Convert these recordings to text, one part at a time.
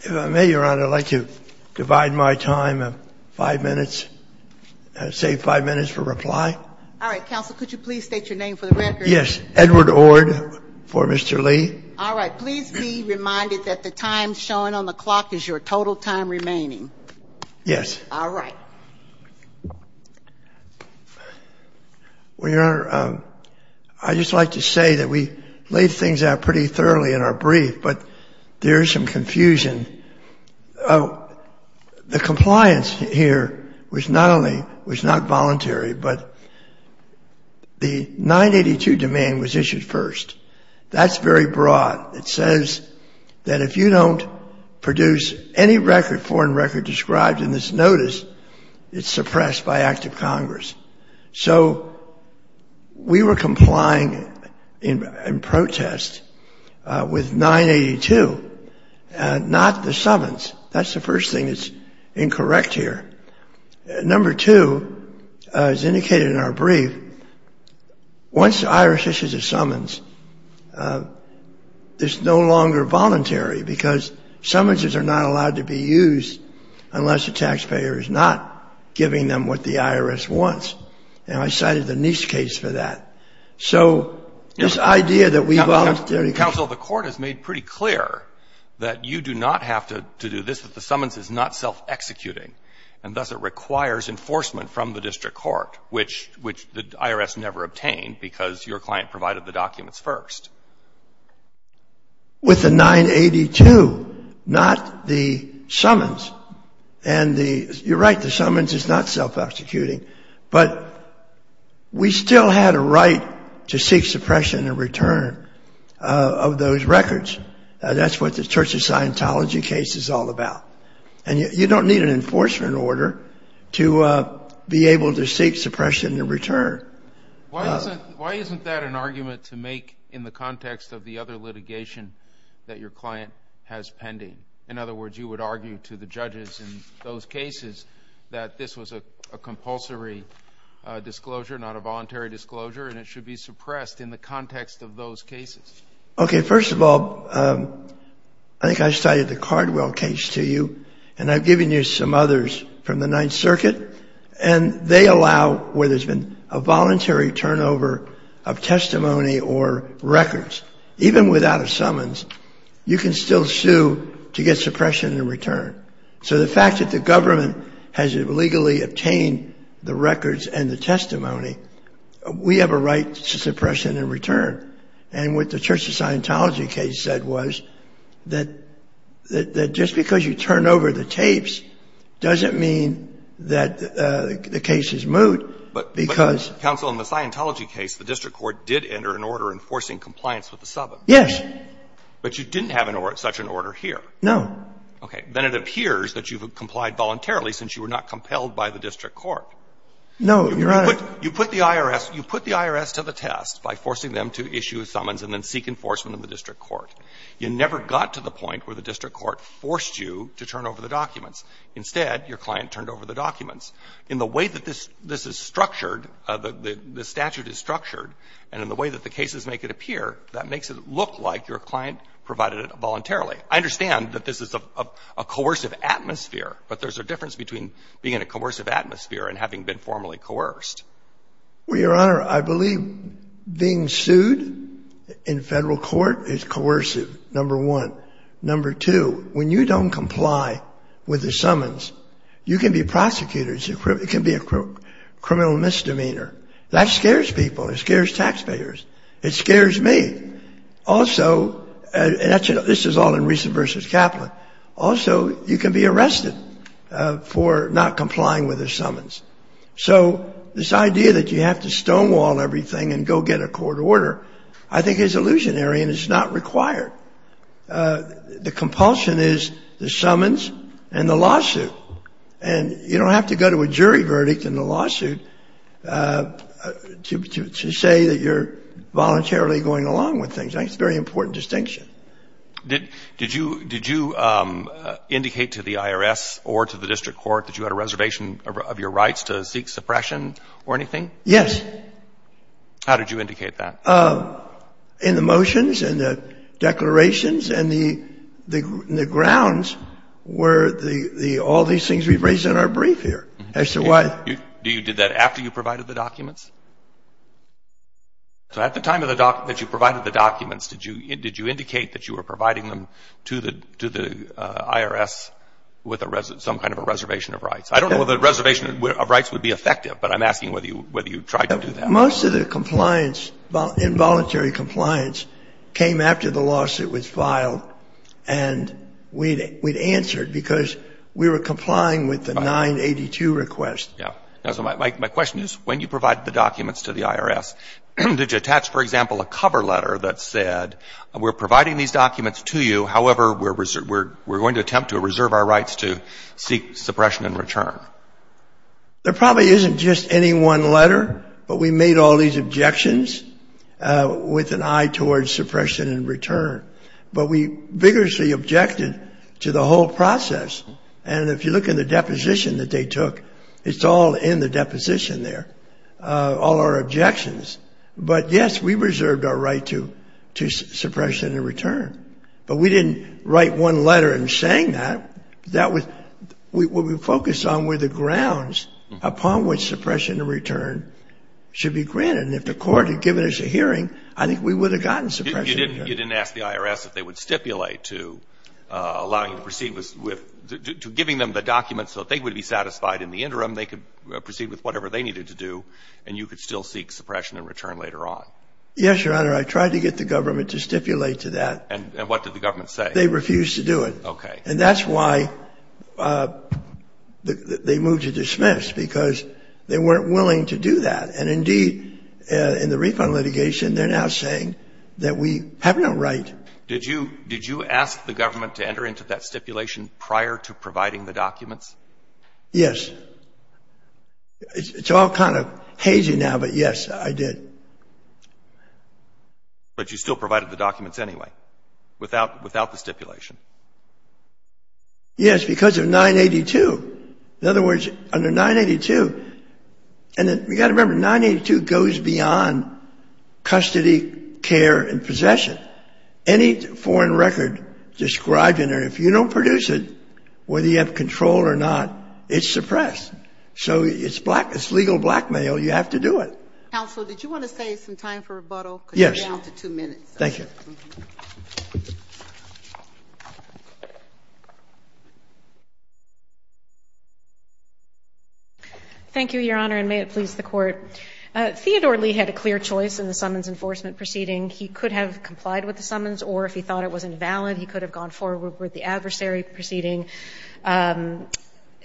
If I may, Your Honor, I'd like to divide my time of five minutes, save five minutes for reply. All right. Counsel, could you please state your name for the record? Yes. Edward Ord for Mr. Lee. All right. Please be reminded that the time shown on the clock is your total time remaining. Yes. All right. Well, Your Honor, I'd just like to say that we laid things out pretty thoroughly in our brief, but there is some confusion. The compliance here was not only was not voluntary, but the 982 domain was issued first. That's very broad. It says that if you don't produce any record, foreign record described in this notice, it's suppressed by act of Congress. So we were complying in protest with 982 and not the summons. That's the first thing that's incorrect here. Number two, as indicated in our brief, once the IRS issues a summons, it's no longer voluntary because summons are not allowed to be used unless the taxpayer is not giving them what the IRS wants. And I cited the Nice case for that. So this idea that we voluntarily Counsel, the Court has made pretty clear that you do not have to do this, that the summons is not self-executing. And thus, it requires enforcement from the district court, which the IRS never obtained because your client provided the documents first. With the 982, not the summons, and the — you're right, the summons is not self-executing. But we still had a right to seek suppression in return of those records. That's what the Church of Scientology case is all about. And you don't need an enforcement order to be able to seek suppression in return. Why isn't that an argument to make in the context of the other litigation that your client has pending? In other words, you would argue to the judges in those cases that this was a compulsory disclosure, not a voluntary disclosure, and it should be suppressed in the context of those cases. Okay. First of all, I think I cited the Cardwell case to you. And I've given you some others from the Ninth Circuit. And they allow where there's been a voluntary turnover of testimony or records, even without a summons, you can still sue to get suppression in return. So the fact that the government has illegally obtained the records and the testimony, we have a right to suppression in return. And what the Church of Scientology case said was that just because you turn over the tapes doesn't mean that the case is moot because — But, Counsel, in the Scientology case, the district court did enter an order enforcing compliance with the summons. Yes. But you didn't have such an order here. No. Okay. Then it appears that you've complied voluntarily since you were not compelled by the district court. No, Your Honor. You put the IRS to the test by forcing them to issue a summons and then seek enforcement of the district court. You never got to the point where the district court forced you to turn over the documents. Instead, your client turned over the documents. In the way that this is structured, the statute is structured, and in the way that the cases make it appear, that makes it look like your client provided it voluntarily. I understand that this is a coercive atmosphere, but there's a difference between being in a coercive atmosphere and having been formally coerced. Well, Your Honor, I believe being sued in federal court is coercive, number one. Number two, when you don't comply with the summons, you can be prosecuted. It can be a criminal misdemeanor. That scares people. It scares taxpayers. It scares me. Also — and this is all in Reese v. Kaplan — also, you can be arrested for not complying with the summons. So this idea that you have to stonewall everything and go get a court order, I think is illusionary and is not required. The compulsion is the summons and the lawsuit. And you don't have to go to a jury verdict in the lawsuit to say that you're voluntarily going along with things. I think it's a very important distinction. Did you indicate to the IRS or to the district court that you had a reservation of your rights to seek suppression or anything? Yes. How did you indicate that? In the motions and the declarations and the grounds where the — all these things we've raised in our brief here. As to why — Did you do that after you provided the documents? So at the time that you provided the documents, did you indicate that you were providing them to the IRS with some kind of a reservation of rights? I don't know whether a reservation of rights would be effective, but I'm asking whether you tried to do that. Most of the compliance, involuntary compliance, came after the lawsuit was filed. And we'd answered because we were complying with the 982 request. Yeah. My question is, when you provided the documents to the IRS, did you attach, for example, a cover letter that said, we're providing these documents to you, however, we're going to attempt to reserve our rights to seek suppression and return? There probably isn't just any one letter, but we made all these objections with an eye towards suppression and return. But we vigorously objected to the whole process. And if you look in the deposition that they took, it's all in the deposition there, all our objections. But, yes, we reserved our right to suppression and return. But we didn't write one letter in saying that. That was — what we focused on were the grounds upon which suppression and return should be granted. And if the court had given us a hearing, I think we would have gotten suppression and return. You didn't ask the IRS if they would stipulate to allowing you to proceed with — to giving them the documents so that they would be satisfied in the interim they could proceed with whatever they needed to do and you could still seek suppression and return later on. Yes, Your Honor. I tried to get the government to stipulate to that. And what did the government say? They refused to do it. Okay. And that's why they moved to dismiss, because they weren't willing to do that. And, indeed, in the refund litigation, they're now saying that we have no right. Did you — did you ask the government to enter into that stipulation prior to providing the documents? Yes. It's all kind of hazy now, but, yes, I did. But you still provided the documents anyway, without — without the stipulation. Yes, because of 982. In other words, under 982 — and you've got to remember, 982 goes beyond custody, care, and possession. Any foreign record described in there, if you don't produce it, whether you have control or not, it's suppressed. So it's black — it's legal blackmail. You have to do it. Counsel, did you want to save some time for rebuttal? Yes. Because you're down to two minutes. Thank you. Thank you, Your Honor, and may it please the Court. Theodore Lee had a clear choice in the summons enforcement proceeding. He could have complied with the summons, or if he thought it was invalid, he could have gone forward with the adversary proceeding. And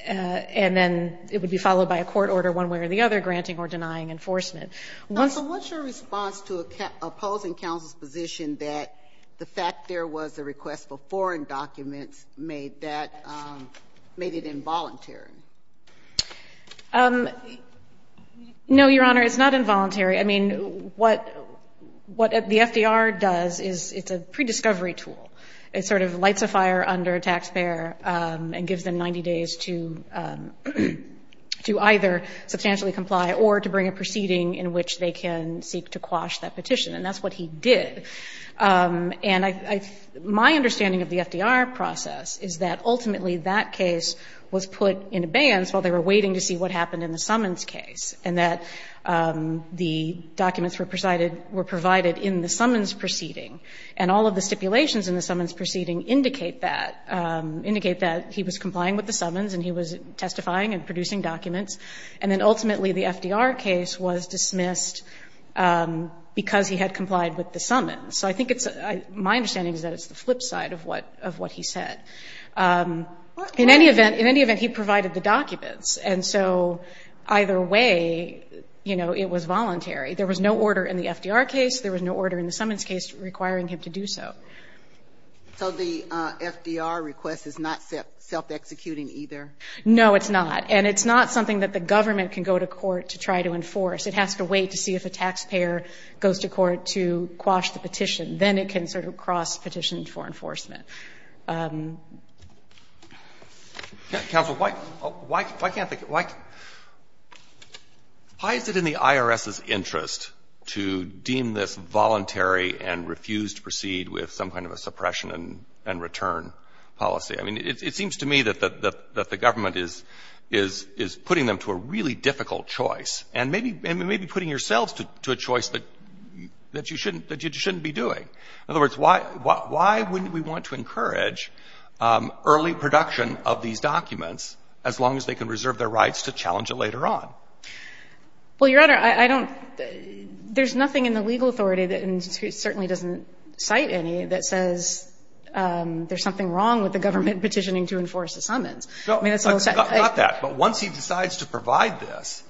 then it would be followed by a court order one way or the other granting or denying enforcement. So what's your response to opposing counsel's position that the fact there was a request for foreign documents made that — made it involuntary? No, Your Honor, it's not involuntary. I mean, what the FDR does is it's a prediscovery tool. It sort of lights a fire under a taxpayer and gives them 90 days to either substantially comply or to bring a proceeding in which they can seek to quash that petition, and that's what he did. And I — my understanding of the FDR process is that ultimately that case was put in abeyance while they were waiting to see what happened in the summons case and that the documents were provided in the summons proceeding. And all of the stipulations in the summons proceeding indicate that — indicate that he was complying with the summons and he was testifying and producing documents. And then ultimately the FDR case was dismissed because he had complied with the summons. So I think it's — my understanding is that it's the flip side of what — of what he said. In any event — in any event, he provided the documents. And so either way, you know, it was voluntary. There was no order in the FDR case. There was no order in the summons case requiring him to do so. So the FDR request is not self-executing either? No, it's not. And it's not something that the government can go to court to try to enforce. It has to wait to see if a taxpayer goes to court to quash the petition. Then it can sort of cross-petition for enforcement. Counsel, why can't the — why is it in the IRS's interest to deem this voluntary and refuse to proceed with some kind of a suppression and return policy? I mean, it seems to me that the government is putting them to a really difficult choice and maybe putting yourselves to a choice that you shouldn't be doing. In other words, why wouldn't we want to encourage early production of these documents as long as they can reserve their rights to challenge it later on? Well, Your Honor, I don't — there's nothing in the legal authority that certainly doesn't cite any that says there's something wrong with the government petitioning to enforce the summons. I mean, it's a little — Not that. But once he decides to provide this,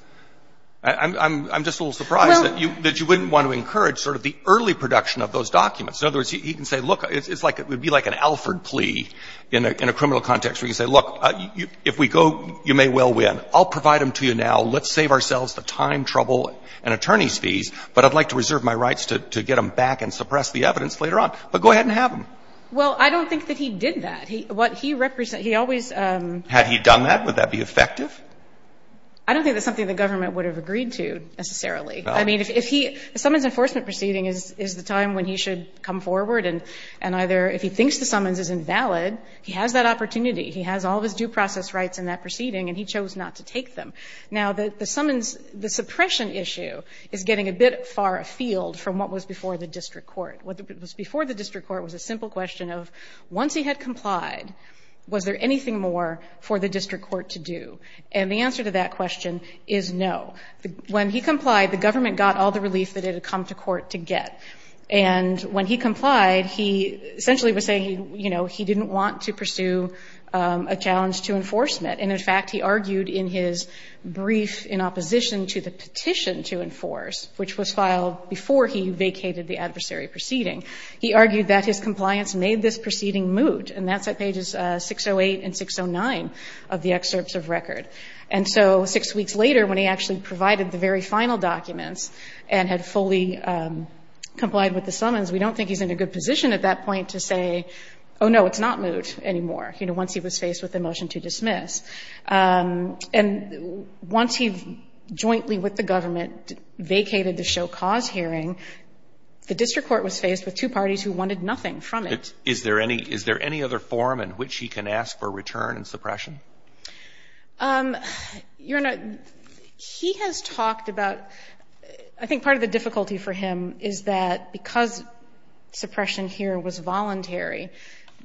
I'm just a little surprised that you wouldn't want to encourage sort of the early production of those documents. In other words, he can say, look, it's like — it would be like an Alford plea in a criminal context where you say, look, if we go, you may well win. I'll provide them to you now. Let's save ourselves the time, trouble, and attorneys' fees, but I'd like to reserve my rights to get them back and suppress the evidence later on. But go ahead and have them. Well, I don't think that he did that. What he — he always — Had he done that, would that be effective? I don't think that's something the government would have agreed to, necessarily. I mean, if he — the summons enforcement proceeding is the time when he should come forward and either — if he thinks the summons is invalid, he has that opportunity. He has all of his due process rights in that proceeding, and he chose not to take them. Now, the summons — the suppression issue is getting a bit far afield from what was before the district court. What was before the district court was a simple question of once he had complied, was there anything more for the district court to do? And the answer to that question is no. When he complied, the government got all the relief that it had come to court to get. And when he complied, he essentially was saying, you know, he didn't want to pursue a challenge to enforcement. And, in fact, he argued in his brief in opposition to the petition to enforce, which was filed before he vacated the adversary proceeding, he argued that his compliance made this proceeding moot. And that's at pages 608 and 609 of the excerpts of record. And so six weeks later, when he actually provided the very final documents and had fully complied with the summons, we don't think he's in a good position at that point to say, oh, no, it's not moot anymore, you know, once he was faced with the motion to dismiss. And once he jointly with the government vacated the show cause hearing, the district court was faced with two parties who wanted nothing from it. Is there any other form in which he can ask for return and suppression? Your Honor, he has talked about, I think part of the difficulty for him is that because suppression here was voluntary,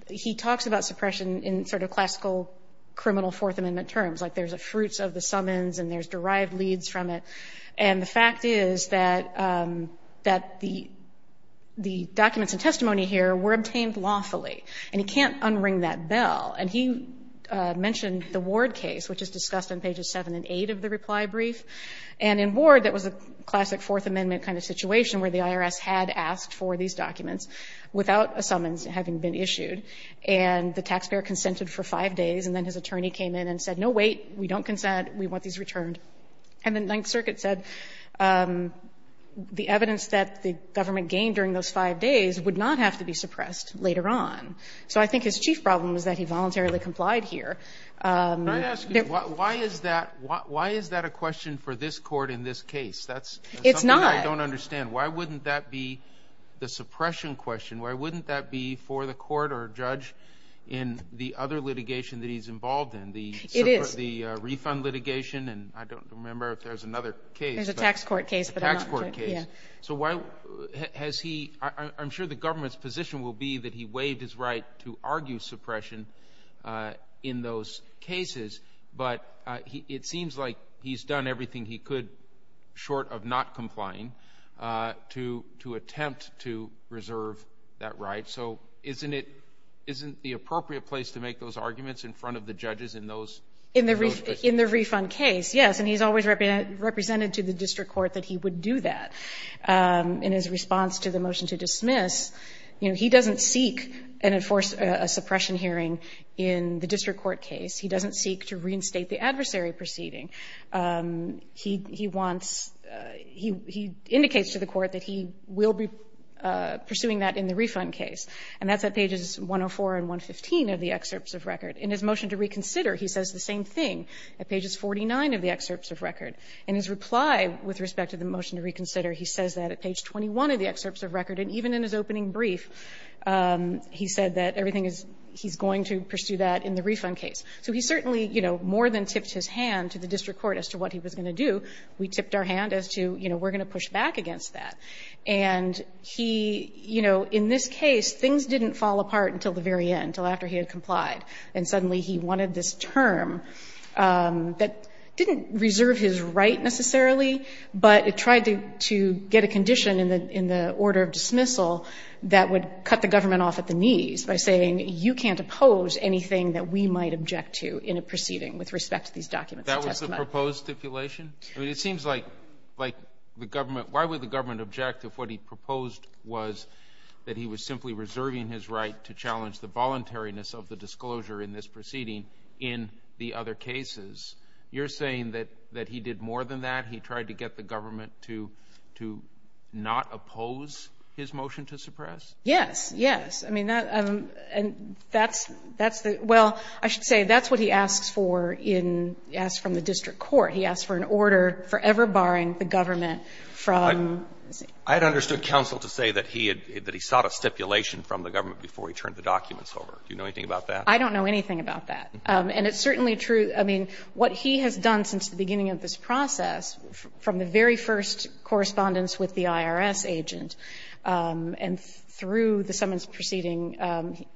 he talks about suppression in sort of classical criminal Fourth Amendment terms, like there's a fruits of the summons and there's derived leads from it. And the fact is that the documents and testimony here were obtained lawfully, and he can't unring that bell. And he mentioned the Ward case, which is discussed on pages 7 and 8 of the reply brief. And in Ward, that was a classic Fourth Amendment kind of situation, where the IRS had asked for these documents without a summons having been issued. And the taxpayer consented for five days. And then his attorney came in and said, no, wait, we don't consent, we want these returned. And the Ninth Circuit said the evidence that the government gained during those five days would not have to be suppressed later on. So I think his chief problem was that he voluntarily complied here. Can I ask you, why is that a question for this court in this case? It's not. I don't understand. Why wouldn't that be the suppression question? Why wouldn't that be for the court or judge in the other litigation that he's involved in? It is. The refund litigation, and I don't remember if there's another case. There's a tax court case. A tax court case. Yeah. So why has he – I'm sure the government's position will be that he waived his right to argue suppression in those cases, but it seems like he's done everything he could short of not complying to attempt to reserve that right. So isn't it – isn't the appropriate place to make those arguments in front of the judges in those cases? In the refund case, yes. And he's always represented to the district court that he would do that. In his response to the motion to dismiss, you know, he doesn't seek and enforce a suppression hearing in the district court case. He doesn't seek to reinstate the adversary proceeding. He wants – he indicates to the court that he will be pursuing that in the refund case, and that's at pages 104 and 115 of the excerpts of record. In his motion to reconsider, he says the same thing at pages 49 of the excerpts of record. In his reply with respect to the motion to reconsider, he says that at page 21 of the excerpts of record, and even in his opening brief, he said that everything is – he's going to pursue that in the refund case. So he certainly, you know, more than tipped his hand to the district court as to what he was going to do, we tipped our hand as to, you know, we're going to push back against that. And he – you know, in this case, things didn't fall apart until the very end, until after he had complied, and suddenly he wanted this term that didn't reserve his right necessarily, but it tried to get a condition in the order of dismissal that would cut the government off at the knees by saying you can't oppose anything that we might object to in a proceeding with respect to these documents. That was the proposed stipulation? I mean, it seems like the government – why would the government object if what he proposed was that he was simply reserving his right to challenge the voluntariness of the disclosure in this proceeding in the other cases? You're saying that he did more than that? He tried to get the government to not oppose his motion to suppress? Yes, yes. I mean, that – and that's the – well, I should say that's what he asks for in – asks from the district court. He asks for an order forever barring the government from – I had understood counsel to say that he had – that he sought a stipulation from the government before he turned the documents over. Do you know anything about that? I don't know anything about that. And it's certainly true – I mean, what he has done since the beginning of this process, from the very first correspondence with the IRS agent and through the summons proceeding,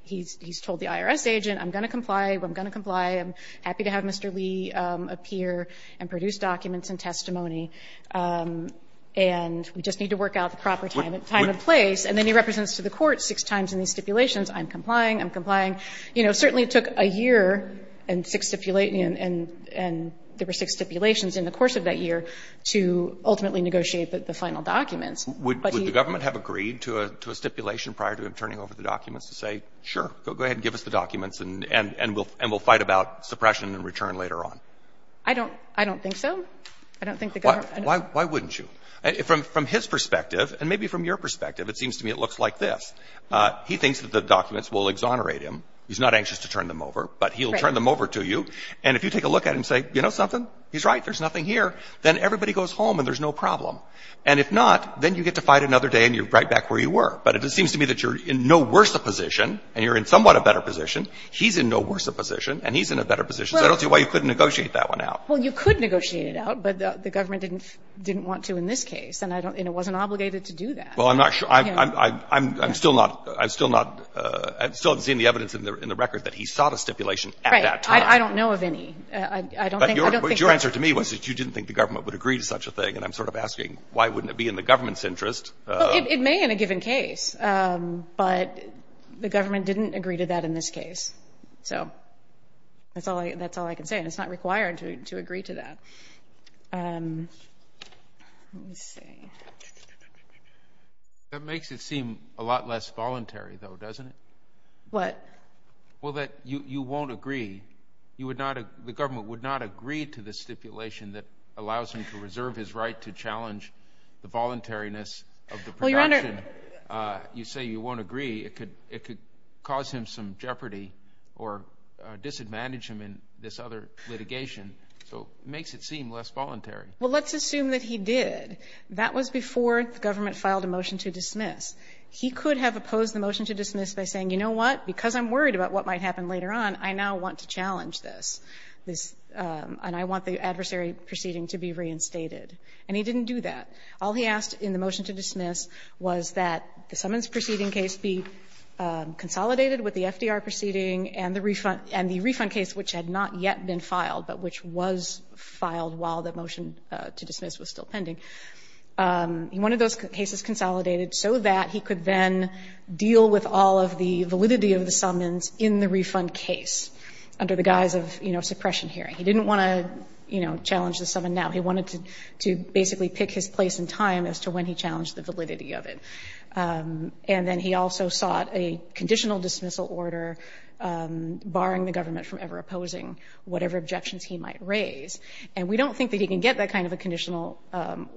he's told the IRS agent, I'm going to comply. I'm going to comply. I'm happy to have Mr. Lee appear and produce documents and testimony. And we just need to work out the proper time and place. And then he represents to the court six times in these stipulations. I'm complying. I'm complying. I'm complying. You know, certainly it took a year and six – and there were six stipulations in the course of that year to ultimately negotiate the final documents. But he – Would the government have agreed to a stipulation prior to him turning over the documents to say, sure, go ahead and give us the documents and we'll fight about suppression and return later on? I don't – I don't think so. I don't think the government – Why wouldn't you? From his perspective and maybe from your perspective, it seems to me it looks like this. He thinks that the documents will exonerate him. He's not anxious to turn them over, but he'll turn them over to you. And if you take a look at him and say, you know something? He's right. There's nothing here. Then everybody goes home and there's no problem. And if not, then you get to fight another day and you're right back where you were. But it seems to me that you're in no worse a position and you're in somewhat a better position. He's in no worse a position and he's in a better position. So I don't see why you couldn't negotiate that one out. Well, you could negotiate it out, but the government didn't want to in this case. And I don't – and it wasn't obligated to do that. Well, I'm not sure. I'm still not – I'm still not – I still haven't seen the evidence in the record that he sought a stipulation at that time. Right. I don't know of any. I don't think that – But your answer to me was that you didn't think the government would agree to such a thing. And I'm sort of asking, why wouldn't it be in the government's interest? Well, it may in a given case. But the government didn't agree to that in this case. So that's all I can say. And it's not required to agree to that. Let me see. That makes it seem a lot less voluntary, though, doesn't it? What? Well, that you won't agree. You would not – the government would not agree to the stipulation that allows him to reserve his right to challenge the voluntariness of the production. Well, Your Honor – You say you won't agree. It could cause him some jeopardy or disadvantage him in this other litigation. So it makes it seem less voluntary. Well, let's assume that he did. That was before the government filed a motion to dismiss. He could have opposed the motion to dismiss by saying, you know what, because I'm worried about what might happen later on, I now want to challenge this, and I want the adversary proceeding to be reinstated. And he didn't do that. All he asked in the motion to dismiss was that the summons proceeding case be consolidated with the FDR proceeding and the refund case which had not yet been filed but which was filed while the motion to dismiss was still pending. He wanted those cases consolidated so that he could then deal with all of the validity of the summons in the refund case under the guise of, you know, suppression hearing. He didn't want to, you know, challenge the summons now. He wanted to basically pick his place in time as to when he challenged the validity of it. And then he also sought a conditional dismissal order barring the government from ever opposing whatever objections he might raise. And we don't think that he can get that kind of a conditional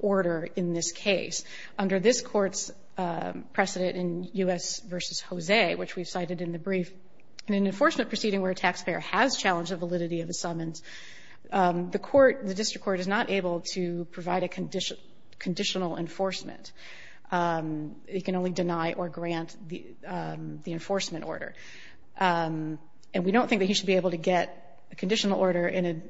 order in this case. Under this Court's precedent in U.S. v. Jose, which we've cited in the brief, in an enforcement proceeding where a taxpayer has challenged the validity of the summons, the court, the district court is not able to provide a conditional enforcement. It can only deny or grant the enforcement order. And we don't think that he should be able to get a conditional order in a —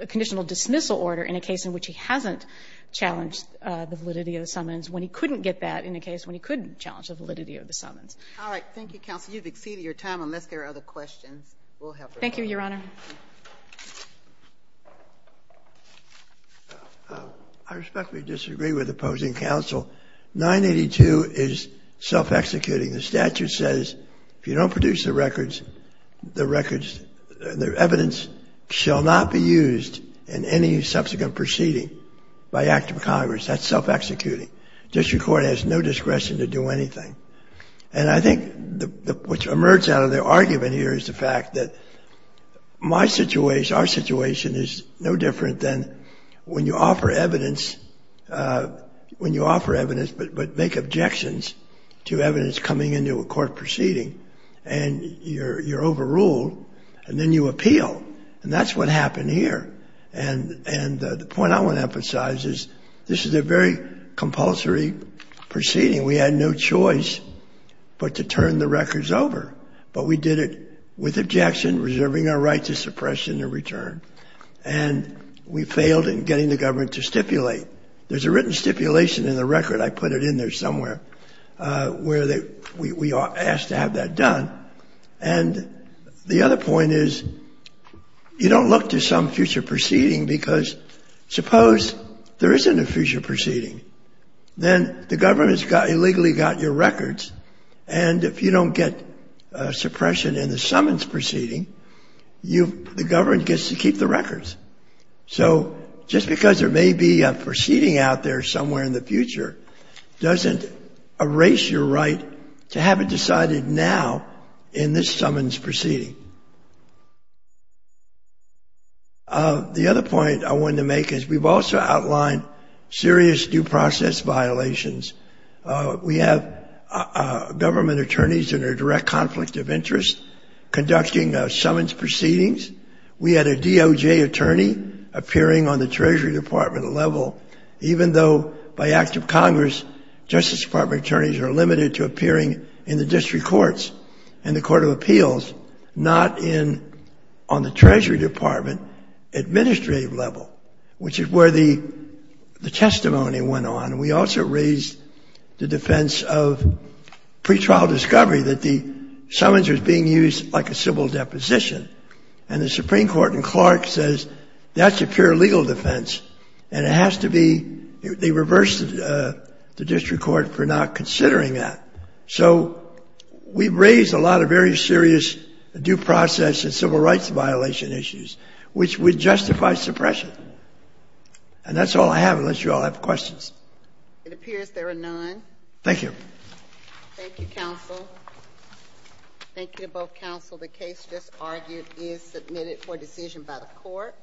a conditional dismissal order in a case in which he hasn't challenged the validity of the summons when he couldn't get that in a case when he couldn't challenge the validity of the summons. All right. Thank you, Counsel. You've exceeded your time unless there are other questions. We'll help her. Thank you, Your Honor. I respectfully disagree with opposing counsel. 982 is self-executing. The statute says if you don't produce the records, the records — the evidence shall not be used in any subsequent proceeding by act of Congress. That's self-executing. District court has no discretion to do anything. And I think what emerges out of the argument here is the fact that my situation, our situation, is no different than when you offer evidence — when you offer evidence but make objections to evidence coming into a court proceeding and you're overruled and then you appeal. And that's what happened here. And the point I want to emphasize is this is a very compulsory proceeding. We had no choice but to turn the records over. But we did it with objection, reserving our right to suppression and return. And we failed in getting the government to stipulate. There's a written stipulation in the record. I put it in there somewhere where we are asked to have that done. And the other point is you don't look to some future proceeding because suppose there isn't a future proceeding. Then the government's got — illegally got your records. And if you don't get suppression in the summons proceeding, you — the government gets to keep the records. So just because there may be a proceeding out there somewhere in the future doesn't erase your right to have it decided now in this summons proceeding. The other point I wanted to make is we've also outlined serious due process violations. We have government attorneys in a direct conflict of interest conducting summons proceedings. We had a DOJ attorney appearing on the Treasury Department level, even though by act of Congress, Justice Department attorneys are limited to appearing in the Court of Appeals, not in — on the Treasury Department administrative level, which is where the testimony went on. And we also raised the defense of pretrial discovery, that the summons was being used like a civil deposition. And the Supreme Court in Clark says that's a pure legal defense. And it has to be — they reversed the district court for not considering that. So we've raised a lot of very serious due process and civil rights violation issues, which would justify suppression. And that's all I have, unless you all have questions. It appears there are none. Thank you. Thank you, counsel. Thank you to both counsel. The case just argued is submitted for decision by the court.